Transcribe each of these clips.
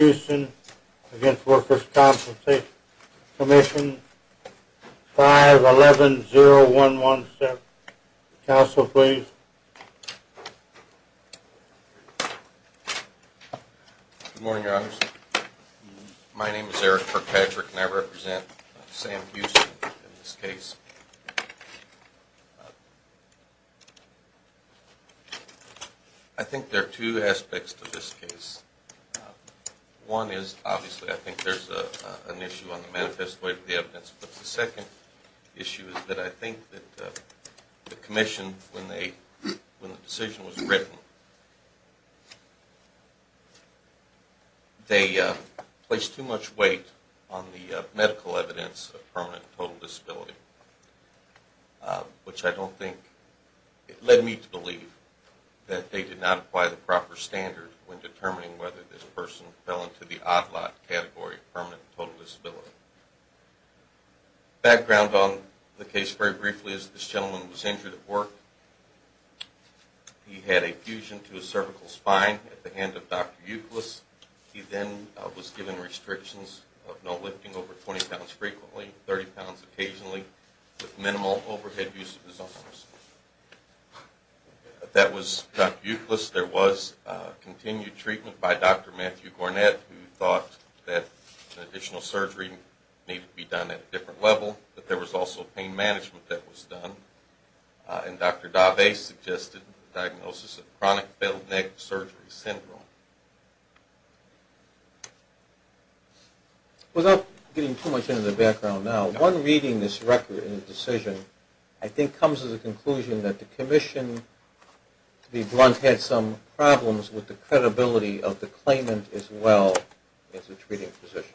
Houston, Against Workers' Comp'n Commission, 511-0117. Counsel, please. Good morning, Your Honors. My name is Eric Kirkpatrick, and I represent Sam Houston in this case. I think there are two aspects to this case. One is, obviously, I think there's an issue on the manifest weight of the evidence. But the second issue is that I think that the Commission, when the decision was written, they placed too much weight on the medical evidence of permanent and total disability, which I don't think led me to believe that they did not apply the proper standard when determining whether this person fell into the odd lot category of permanent and total disability. Background on the case, very briefly, is this gentleman was injured at work. He had a fusion to his cervical spine at the hand of Dr. Euclid. He then was given restrictions of no lifting over 20 pounds frequently, 30 pounds occasionally, with minimal overhead use of his arms. That was Dr. Euclid's. There was continued treatment by Dr. Matthew Gornett, who thought that additional surgery needed to be done at a different level. But there was also pain management that was done. And Dr. Daveh suggested a diagnosis of chronic belled neck surgery syndrome. Without getting too much into the background now, one reading this record and the decision, I think comes to the conclusion that the Commission, to be blunt, had some problems with the credibility of the claimant as well as the treating physician.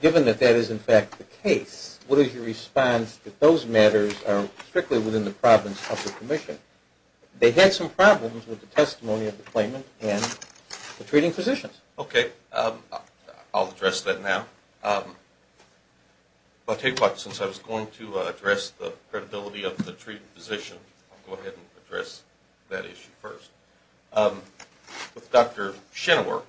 Given that that is, in fact, the case, what is your response that those matters are strictly within the province of the Commission? They had some problems with the testimony of the claimant and the treating physicians. OK. I'll address that now. But since I was going to address the credibility of the treating physician, I'll go ahead and address that issue first. With Dr. Shinnewark,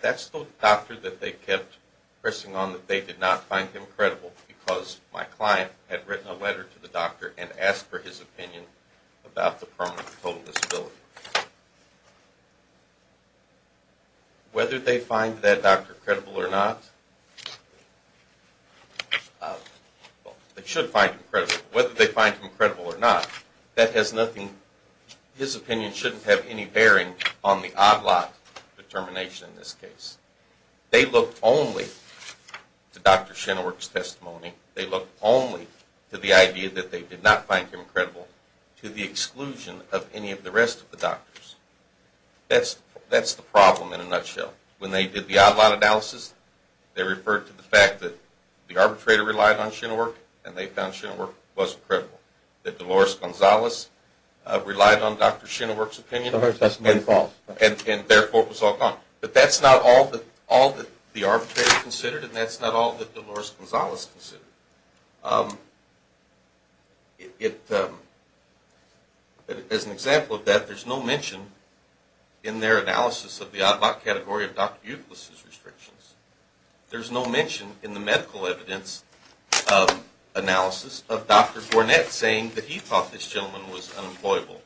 that's the doctor that they kept pressing on that they did not find him credible because my client had written a letter to the doctor and asked for his opinion about the permanent total disability. Whether they find that doctor credible or not, they should find him credible. Whether they find him credible or not, that has nothing, his opinion shouldn't have any bearing on the odd lot determination in this case. They looked only to Dr. Shinnewark's testimony. They looked only to the idea that they did not find him credible to the exclusion of any of the rest of the doctors. That's the problem, in a nutshell. When they did the odd lot analysis, they referred to the fact that the arbitrator relied on Shinnewark, and they found Shinnewark wasn't credible. That Dolores Gonzalez relied on Dr. Shinnewark's opinion, and therefore, it was all gone. But that's not all that the arbitrator considered, and that's not all that Dolores Gonzalez considered. As an example of that, there's no mention in their analysis of the odd lot category of Dr. Euclid's restrictions. There's no mention in the medical evidence analysis of Dr. Gornett saying that he thought this gentleman was unemployable.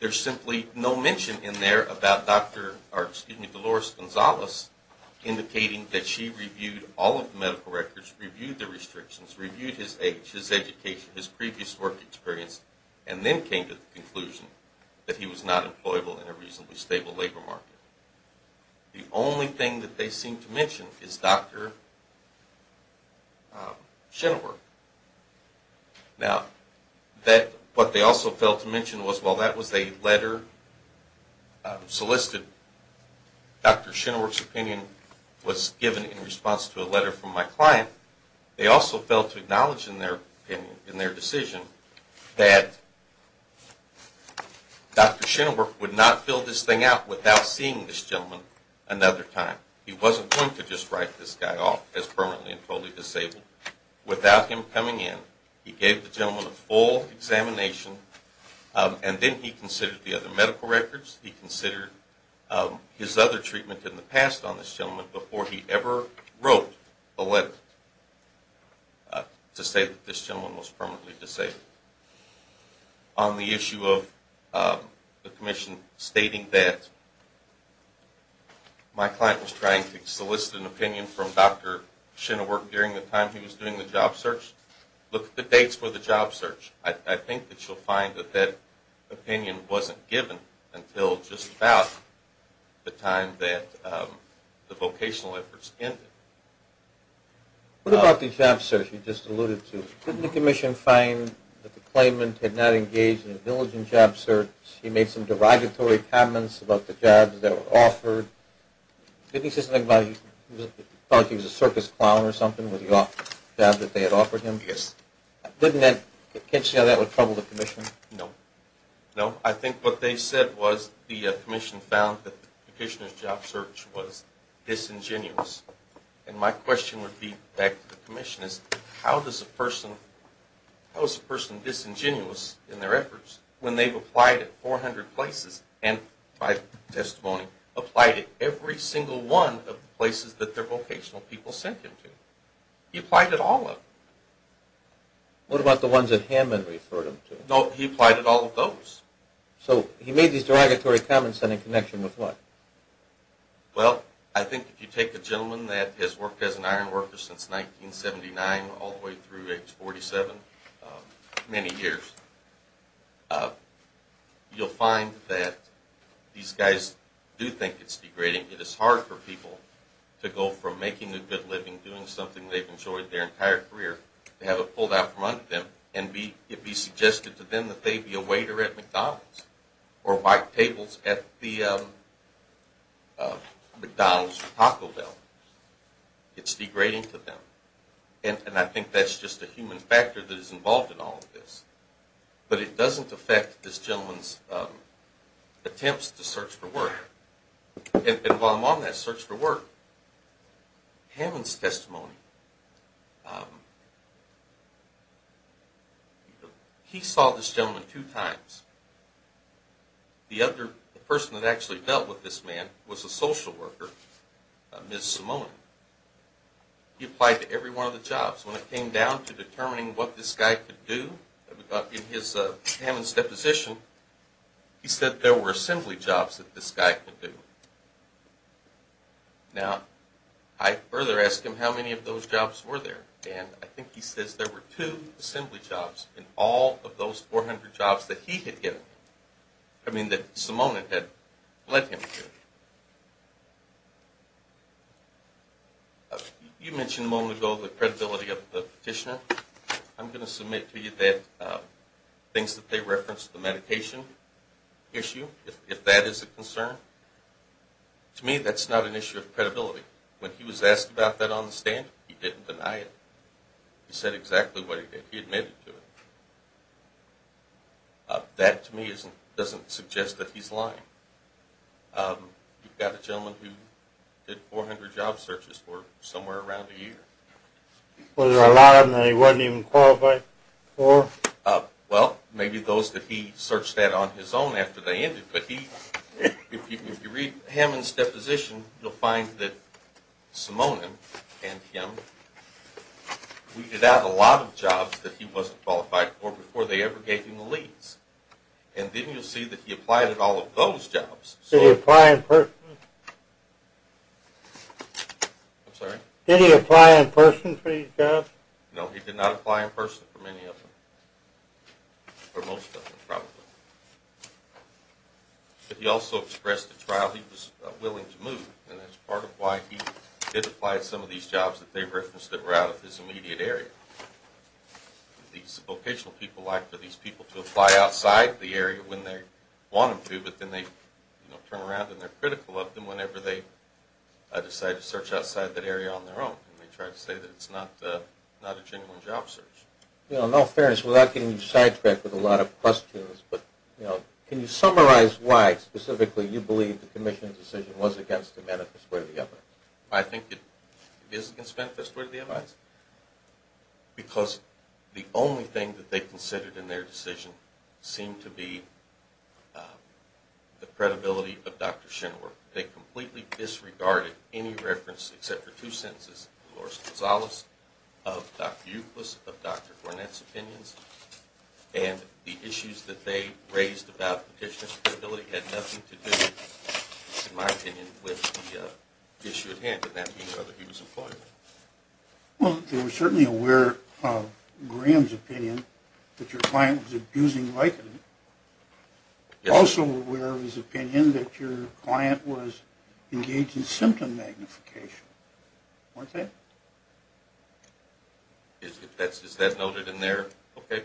There's simply no mention in there about Dolores Gonzalez indicating that she reviewed all of the medical records, reviewed the restrictions, reviewed his age, his education, his previous work experience, and then came to the conclusion that he was not employable in a reasonably stable labor market. The only thing that they seem to mention is Dr. Shinnewark. Now, what they also failed to mention was, well, that was a letter solicited. Dr. Shinnewark's opinion was given in response to a letter from my client. They also failed to acknowledge in their decision that Dr. Shinnewark would not fill this thing out without seeing this gentleman another time. He wasn't going to just write this guy off as permanently and totally disabled without him coming in. He gave the gentleman a full examination, and then he considered the other medical records. He considered his other treatment in the past on this gentleman before he ever wrote a letter to say that this gentleman was permanently disabled. On the issue of the commission stating that my client was trying to solicit an opinion from Dr. Shinnewark during the time he was doing the job search, look at the dates for the job search. I think that you'll find that that opinion wasn't given until just about the time that the vocational efforts ended. What about the job search you just alluded to? Didn't the commission find that the claimant had not engaged in a diligent job search? He made some derogatory comments about the jobs that were offered. Didn't he say something about he thought he was a circus clown or something with the jobs that they had offered him? Yes. Didn't that catch you on how that would trouble the commission? No. No. I think what they said was the commission found that the petitioner's job search was disingenuous. And my question would be back to the commission is, how is a person disingenuous in their efforts when they've applied at 400 places and, by testimony, applied at every single one of the places that their vocational people sent him to? He applied at all of them. What about the ones that Hammond referred him to? No, he applied at all of those. So he made these derogatory comments and in connection with what? Well, I think if you take a gentleman that has worked as an iron worker since 1979, all the way through age 47, many years, you'll find that these guys do think it's degrading. It is hard for people to go from making a good living, doing something they've enjoyed their entire career, to have it pulled out from under them and it be suggested to them that they be a waiter at McDonald's or white tables at the McDonald's Taco Bell. It's degrading to them. And I think that's just a human factor that is involved in all of this. But it doesn't affect this gentleman's attempts to search for work. And while I'm on that search for work, Hammond's testimony, he saw this gentleman two times. The other person that actually dealt with this man was a social worker, Ms. Simone. He applied to every one of the jobs. When it came down to determining what this guy could do, in Hammond's deposition, he said there were assembly jobs that this guy could do. Now, I further asked him how many of those jobs were there. And I think he says there were two assembly jobs in all of those 400 jobs that he had given him, I mean that Simone had led him to. You mentioned a moment ago the credibility of the petitioner. I'm going to submit to you that things that they referenced, the medication issue, if that is a concern, to me that's not an issue of credibility. When he was asked about that on the stand, he didn't deny it. He said exactly what he did. He admitted to it. That, to me, doesn't suggest that he's lying. You've got a gentleman who did 400 job searches for somewhere around a year. Was there a lot of them that he wasn't even qualified for? Well, maybe those that he searched at on his own after they ended. But if you read Hammond's deposition, you'll find that Simone and him, we did have a lot of jobs that he wasn't qualified for before they ever gave him the lease. And then you'll see that he applied at all of those jobs. Did he apply in person? I'm sorry? Did he apply in person for these jobs? No, he did not apply in person for many of them, or most of them, probably. But he also expressed at trial he was willing to move. And that's part of why he did apply at some of these jobs that they referenced that were out of his immediate area. These vocational people like for these people to apply outside the area when they want them to. But then they turn around and they're critical of them whenever they decide to search outside that area on their own. And they try to say that it's not a genuine job search. In all fairness, without getting you sidetracked with a lot of questions, can you summarize why specifically you believe the commission's decision was against the manifesto of the FI's? I think it is against the manifesto of the FI's. Because the only thing that they considered in their decision seemed to be the credibility of Dr. Shinwer. They completely disregarded any reference, except for two sentences, Dolores Gonzalez of Dr. Euclid's, of Dr. Gornet's opinions. And the issues that they raised about petitioner's credibility had nothing to do, in my opinion, with the issue at hand. And that being whether he was employed. Well, they were certainly aware of Graham's opinion that your client was abusing likeness. Also aware of his opinion that your client was engaged in symptom magnification. Wasn't it? Is that noted in there? OK.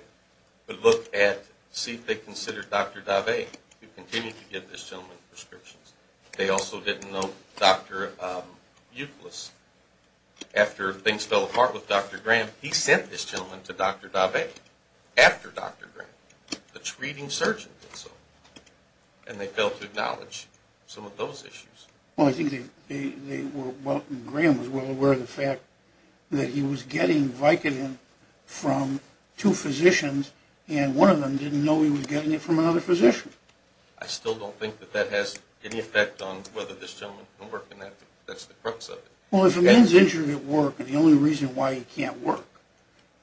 But look at, see if they considered Dr. Davey, who continued to give this gentleman prescriptions. They also didn't know Dr. Euclid's. After things fell apart with Dr. Graham, he sent this gentleman to Dr. Davey, after Dr. Graham, the treating surgeon did so. And they failed to acknowledge some of those issues. Well, I think they were, well, Graham was well aware of the fact that he was getting Vicodin from two physicians. And one of them didn't know he was getting it from another physician. I still don't think that that has any effect on whether this gentleman can work in that. That's the crux of it. Well, if a man's injured at work, and the only reason why he can't work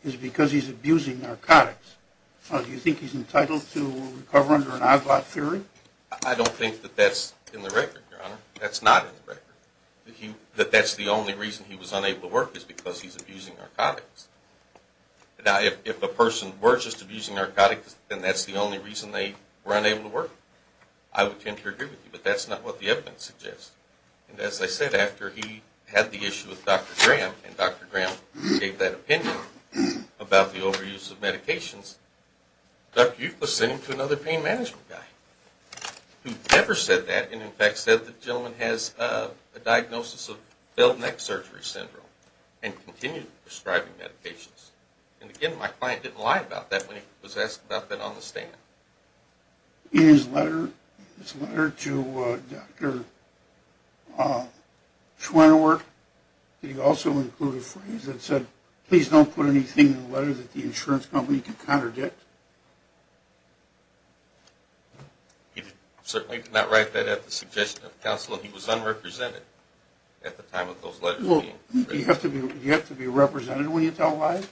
is because he's abusing narcotics, do you think he's entitled to recover under an OGLOT theory? I don't think that that's in the record, Your Honor. That's not in the record. That that's the only reason he was unable to work is because he's abusing narcotics. Now, if a person were just abusing narcotics, then that's the only reason they were unable to work. I would tend to agree with you. But that's not what the evidence suggests. And as I said, after he had the issue with Dr. Graham, and Dr. Graham gave that opinion about the overuse of medications, Dr. Euclid sent him to another pain management guy, who never said that, and in fact, said the gentleman has a diagnosis of belt neck surgery syndrome, and continued prescribing medications. And again, my client didn't lie about that when he was asked about that on the stand. In his letter to Dr. Schwinnerwerk, did he also include a phrase that said, please don't put anything in the letter that the insurance company could contradict? He certainly did not write that at the suggestion of counsel. He was unrepresented at the time of those letters being written. Do you have to be represented when you tell lies?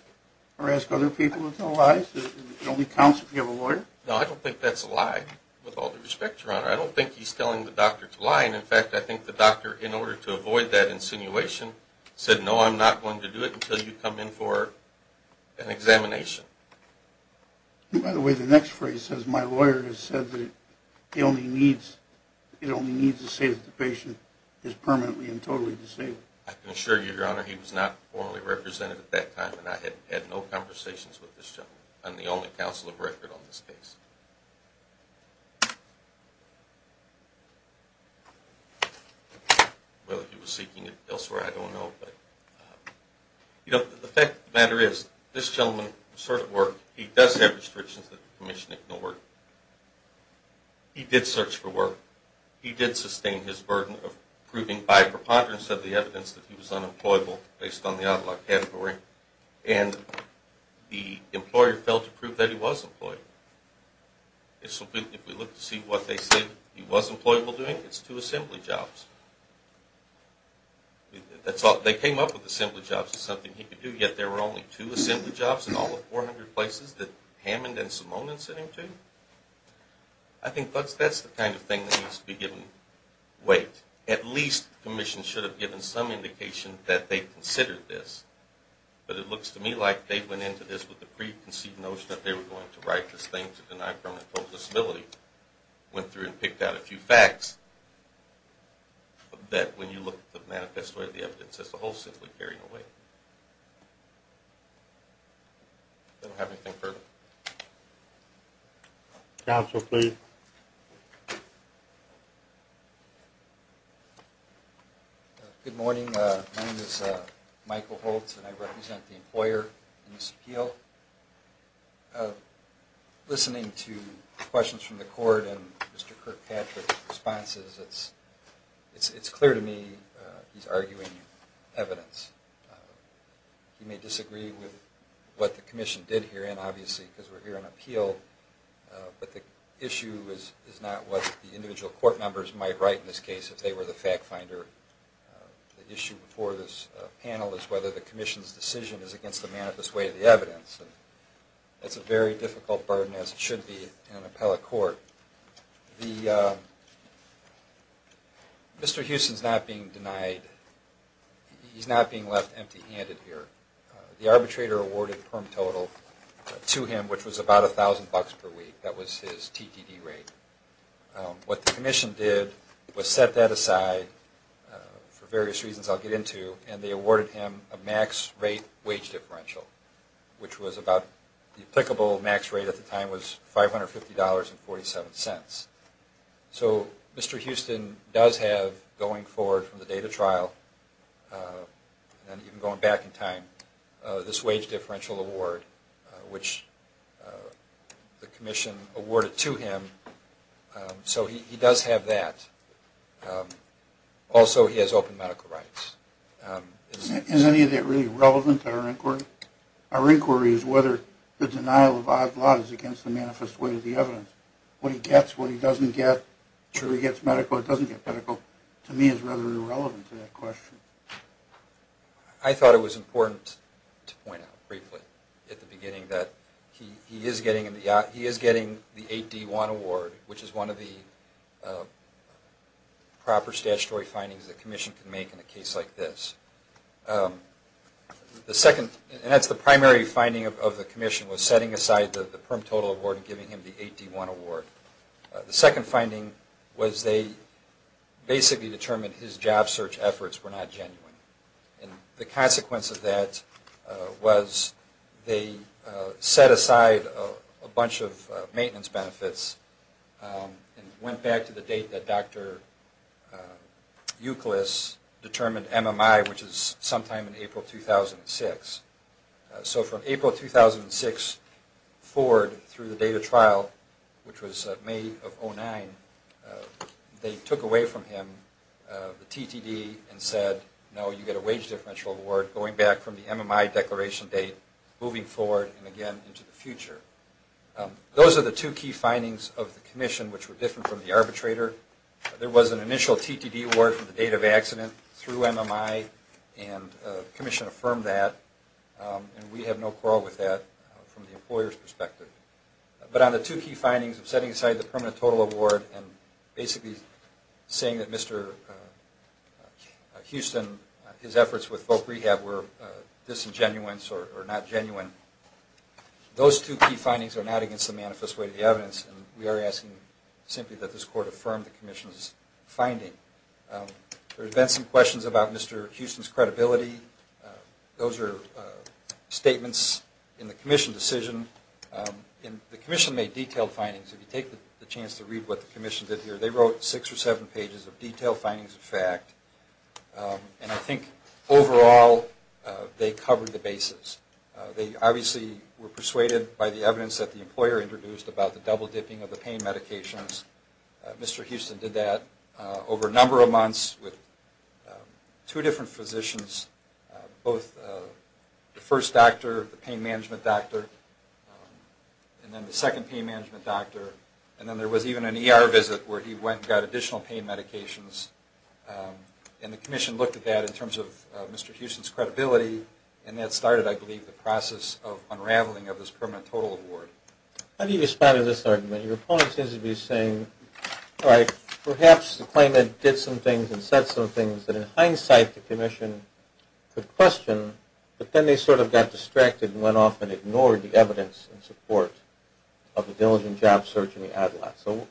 Or ask other people to tell lies? It only counts if you have a lawyer? No, I don't think that's a lie, with all due respect, Your Honor. I don't think he's telling the doctor to lie. And in fact, I think the doctor, in order to avoid that insinuation, said, no, I'm not going to do it until you come in for an examination. By the way, the next phrase says, my lawyer has said that it only needs to say that the patient is permanently and totally disabled. I can assure you, Your Honor, he was not formally represented at that time. And I had had no conversations with this gentleman. I'm the only counsel of record on this case. Whether he was seeking it elsewhere, I don't know. You know, the fact of the matter is, this gentleman asserted work. He does have restrictions that the commission ignored. He did search for work. He did sustain his burden of proving, by preponderance of the evidence, that he was unemployable, based on the outlaw category. And the employer failed to prove that he was employed. If we look to see what they say he was employable doing, it's two assembly jobs. That's all. They came up with assembly jobs as something he could do. Yet there were only two assembly jobs in all the 400 places that Hammond and Simone had sent him to? I think that's the kind of thing that needs to be given weight. At least the commission should have given some indication that they considered this. But it looks to me like they went into this with the preconceived notion that they were going to write this thing to deny permanent total disability. Went through and picked out a few facts. That when you look at the manifesto of the evidence, that's the whole assembly carrying away. Don't have anything further. Counsel, please. Good morning. My name is Michael Holtz, and I represent the employer in this appeal. Listening to questions from the court and Mr. Kirkpatrick's responses, it's clear to me he's arguing evidence. You may disagree with what the commission did here, and obviously, because we're here on appeal. But the issue is not what the individual court members might write in this case if they were the fact finder. The issue before this panel is whether the commission's decision is against the manifest way of the evidence. That's a very difficult burden, as it should be in an appellate court. Mr. Houston's not being denied. He's not being left empty handed here. The arbitrator awarded permanent total to him, which was about $1,000 per week. That was his TDD rate. What the commission did was set that aside for various reasons I'll get into, and they awarded him a max rate wage differential, which was about the applicable max rate at the time was $550.47. So Mr. Houston does have, going forward from the date of trial, and even going back in time, this wage differential award, which the commission awarded to him. So he does have that. Also, he has open medical rights. Is any of that really relevant to our inquiry? Our inquiry is whether the denial of odd laws against the manifest way of the evidence, what he gets, what he doesn't get. Sure, he gets medical. He doesn't get medical. To me, it's rather irrelevant to that question. I thought it was important to point out briefly at the beginning that he is getting the 8D1 award, which is one of the proper statutory findings the commission can make in a case like this. The second, and that's the primary finding of the commission, was setting aside the PERM total award and giving him the 8D1 award. The second finding was they basically determined his job search efforts were not genuine. And the consequence of that was they set aside a bunch of maintenance benefits and went back to the date that Dr. Euclid determined MMI, which is sometime in April 2006. So from April 2006 forward through the date of trial, which was May of 2009, they took away from him the TTD and said, no, you get a wage differential award, going back from the MMI declaration date, moving forward and again into the future. Those are the two key findings of the commission, which were different from the arbitrator. There was an initial TTD award from the date of accident through MMI, and the commission affirmed that. And we have no quarrel with that from the employer's perspective. But on the two key findings of setting aside the permanent total award and basically saying that Mr. Houston, his efforts with folk rehab were disingenuous or not genuine, those two key findings are not against the manifest way of the evidence. And we are asking simply that this court affirm the commission's finding. There have been some questions about Mr. Houston's credibility. Those are statements in the commission decision. And the commission made detailed findings. If you take the chance to read what the commission did here, they wrote six or seven pages of detailed findings of fact. And I think overall, they covered the basis. They obviously were persuaded by the evidence that the employer introduced about the double dipping of the pain medications. Mr. Houston did that over a number of months with two different physicians, both the first doctor, the pain management doctor, and then the second pain management doctor. And then there was even an ER visit where he went and got additional pain medications. And the commission looked at that in terms of Mr. Houston's credibility. And that started, I believe, the process of unraveling of this permanent total award. How do you respond to this argument? Your opponent seems to be saying, all right, perhaps the claimant did some things and said some things that, in hindsight, the commission could question. But then they sort of got distracted and went off and ignored the evidence in support of the diligent job search in the ad lot. So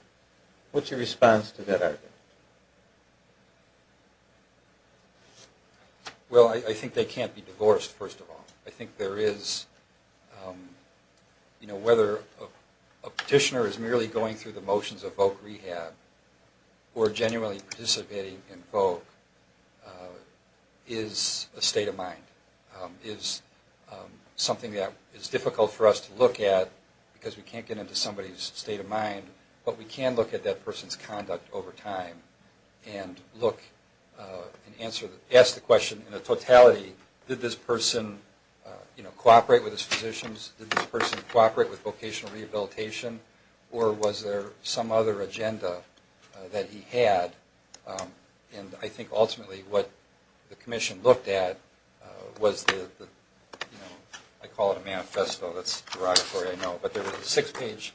what's your response to that argument? Well, I think they can't be divorced, first of all. I think whether a petitioner is merely going through the motions of voc rehab or genuinely participating in voc is a state of mind, is something that is difficult for us to look at, because we can't get into somebody's state of mind. But we can look at that person's conduct over time and ask the question, in a totality, did this person cooperate with his physicians? Did this person cooperate with vocational rehabilitation? Or was there some other agenda that he had? And I think, ultimately, what the commission looked at was the, I call it a manifesto. That's derogatory, I know. But there was a six-page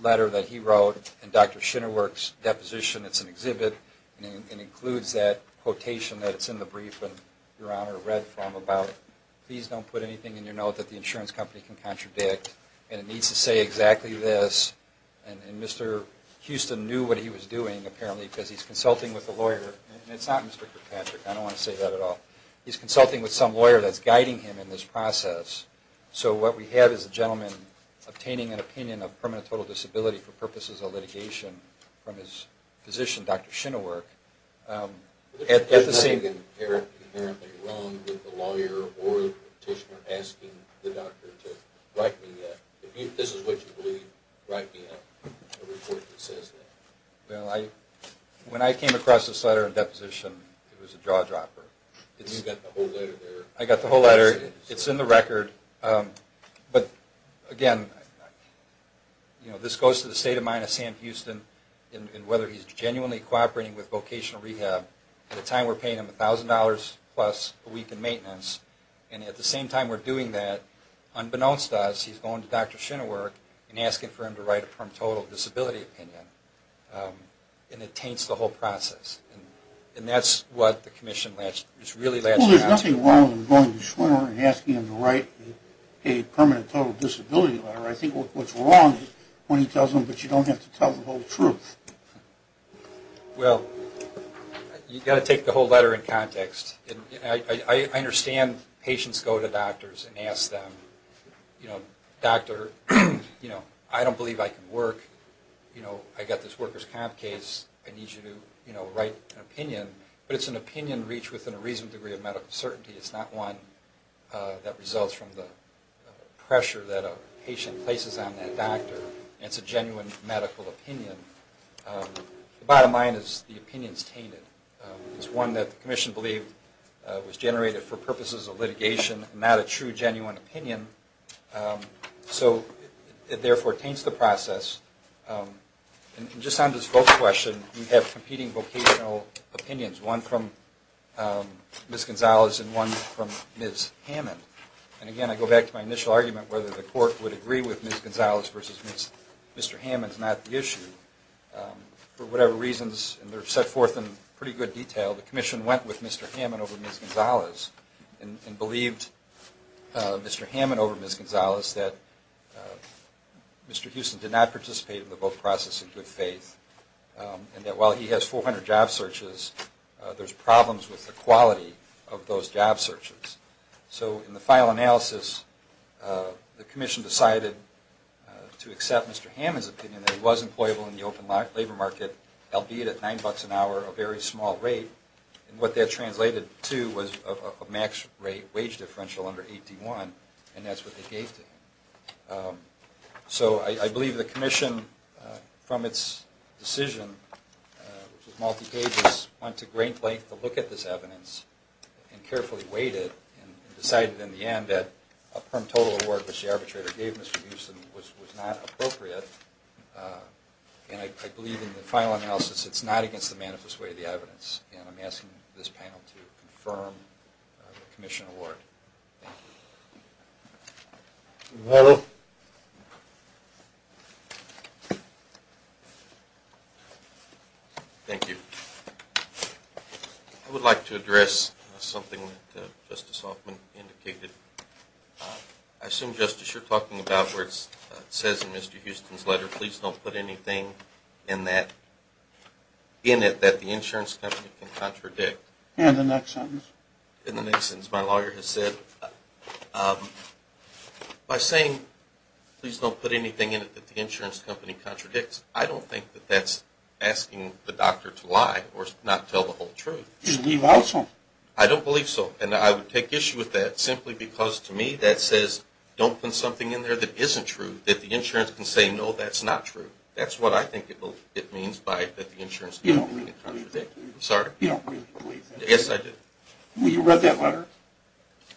letter that he wrote in Dr. Shinnerwerk's deposition. It's an exhibit. And it includes that quotation that's in the brief. And your honor read from about, please don't put anything in your note that the insurance company can contradict. And it needs to say exactly this. And Mr. Houston knew what he was doing, apparently, because he's consulting with a lawyer. And it's not Mr. Kirkpatrick. I don't want to say that at all. He's consulting with some lawyer that's guiding him in this process. So what we have is a gentleman obtaining an opinion of permanent total disability for purposes of litigation from his physician, Dr. Shinnerwerk. But there's nothing inherently wrong with the lawyer or the petitioner asking the doctor to write me a, if this is what you believe, write me a report that says that. When I came across this letter in deposition, it was a jaw-dropper. And you got the whole letter there. I got the whole letter. It's in the record. But again, this goes to the state of mind of Sam Houston and whether he's genuinely cooperating with vocational rehab. At the time, we're paying him $1,000 plus a week in maintenance. And at the same time we're doing that, unbeknownst to us, he's going to Dr. Shinnerwerk and asking for him to write a permanent total disability opinion. And it taints the whole process. And that's what the commission is really latching onto. Well, there's nothing wrong with him going to Shinner and asking him to write a permanent total disability letter. I think what's wrong is when he tells him, but you don't have to tell the whole truth. Well, you've got to take the whole letter in context. I understand patients go to doctors and ask them, doctor, I don't believe I can work. I got this worker's comp case. I need you to write an opinion. But it's an opinion reached within a reasonable degree of medical certainty. It's not one that results from the pressure that a patient places on that doctor. And it's a genuine medical opinion. The bottom line is the opinion's tainted. It's one that the commission believed was generated for purposes of litigation, not a true genuine opinion. So it therefore taints the process. And just on this vote question, we have competing vocational opinions, one from Ms. Gonzalez and one from Ms. Hammond. And again, I go back to my initial argument whether the court would agree with Ms. Gonzalez versus Mr. Hammond is not the issue. For whatever reasons, and they're set forth in pretty good detail, the commission went with Mr. Hammond over Ms. Gonzalez and believed Mr. Hammond over Ms. Gonzalez that Mr. Houston did not participate in the vote process in good faith, and that while he has 400 job searches, there's problems with the quality of those job searches. So in the final analysis, the commission decided to accept Mr. Hammond's opinion that he was employable in the open labor market, albeit at $9 an hour, a very small rate. And what that translated to was a max rate wage differential under 8D1. And that's what they gave to him. So I believe the commission, from its decision, which was multi-pages, went to great length to look at this evidence, and carefully weighed it, and decided in the end that a perm total award, which the arbitrator gave Mr. Houston, was not appropriate. And I believe, in the final analysis, it's not against the manifest way of the evidence. And I'm asking this panel to confirm the commission award. Thank you. Mello? Thank you. I would like to address something that Justice Hoffman indicated. I assume, Justice, you're talking about where it says in Mr. Houston's letter, please don't put anything in it that the insurance company can contradict. In the next sentence. In the next sentence, my lawyer has said, by saying, please don't put anything in it that the insurance company contradicts, I don't think that that's asking the doctor to lie, or not tell the whole truth. Do you believe also? I don't believe so. And I would take issue with that, simply because, to me, that says, don't put something in there that isn't true, that the insurance can say, no, that's not true. That's what I think it means by that the insurance company can contradict. I'm sorry? You don't really believe that? Yes, I do. Well, you read that letter?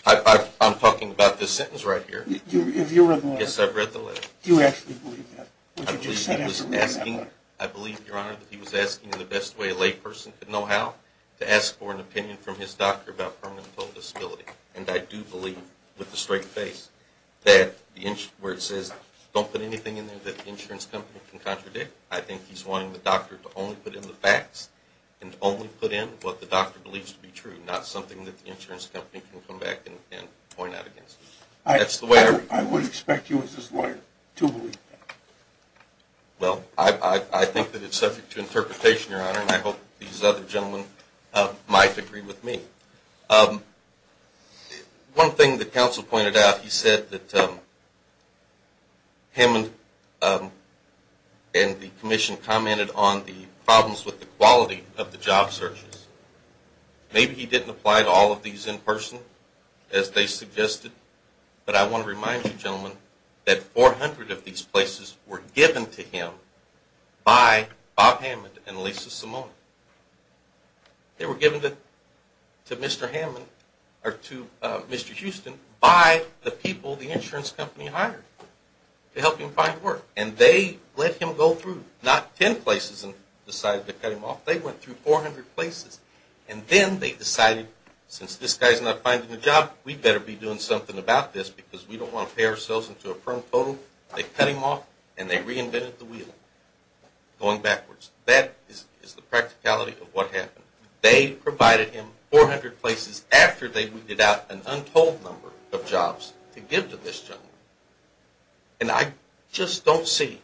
I'm talking about this sentence right here. Have you read the letter? Yes, I've read the letter. Do you actually believe that? What you just said after reading that letter. I believe, Your Honor, that he was asking, in the best way a lay person could know how, to ask for an opinion from his doctor about permanent total disability. And I do believe, with a straight face, that where it says, don't put anything in there that the insurance company can contradict, I think he's wanting the doctor to only put in the facts, and only put in what the doctor believes to be true, not something that the insurance company can come back and point out against him. That's the way I read it. I would expect you, as his lawyer, to believe that. Well, I think that it's subject to interpretation, Your Honor, and I hope these other gentlemen might agree with me. One thing the counsel pointed out, he said that him and the commission commented on the problems with the quality of the job searches. Maybe he didn't apply to all of these in person, as they suggested. But I want to remind you, gentlemen, that 400 of these places were given to him by Bob Hammond and Lisa Simone. They were given to Mr. Houston by the people the insurance company hired to help him find work. And they let him go through not 10 places and decided to cut him off. They went through 400 places. And then they decided, since this guy's not finding a job, we'd better be doing something about this, because we don't want to pay ourselves into a firm total. They cut him off, and they reinvented the wheel, going backwards. That is the practicality of what happened. They provided him 400 places after they weeded out an untold number of jobs to give to this gentleman. And I just don't see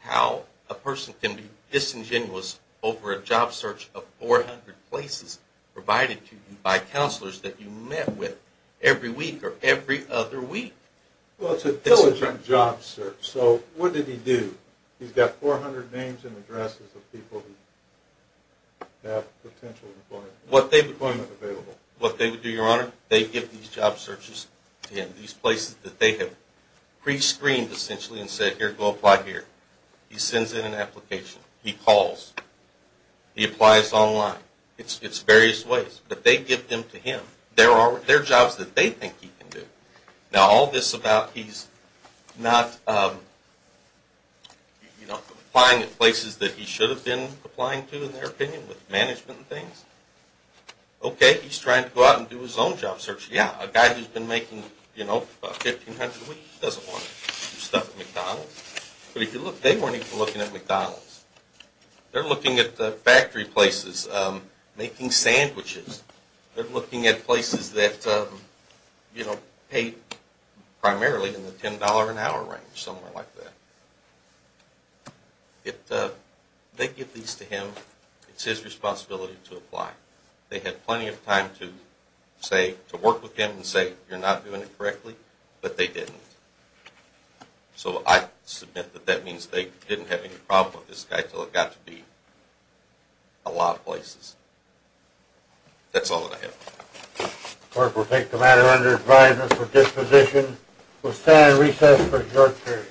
how a person can be disingenuous over a job search of 400 places provided to you by counselors that you met with every week or every other week. Well, it's a diligent job search. So what did he do? He's got 400 names and addresses of people who have potential employment available. What they would do, Your Honor, they give these job searches to him, these places that they have pre-screened, essentially, and said, here, go apply here. He sends in an application. He calls. He applies online. It's various ways. But they give them to him. There are jobs that they think he can do. Now, all this about he's not applying at places that he should have been applying to, in their opinion, with management and things. OK, he's trying to go out and do his own job search. Yeah, a guy who's been making about 1,500 a week doesn't want to do stuff at McDonald's. But if you look, they weren't even looking at McDonald's. They're looking at factory places, making sandwiches. They're looking at places that paid primarily in the $10 an hour range, somewhere like that. They give these to him. It's his responsibility to apply. They had plenty of time to work with him and say, you're not doing it correctly. But they didn't. So I submit that that means they didn't have any problem with this guy until it got to be a lot of places. That's all that I have. Clerk will take the matter under advisement for disposition. We'll stand recess for a short period.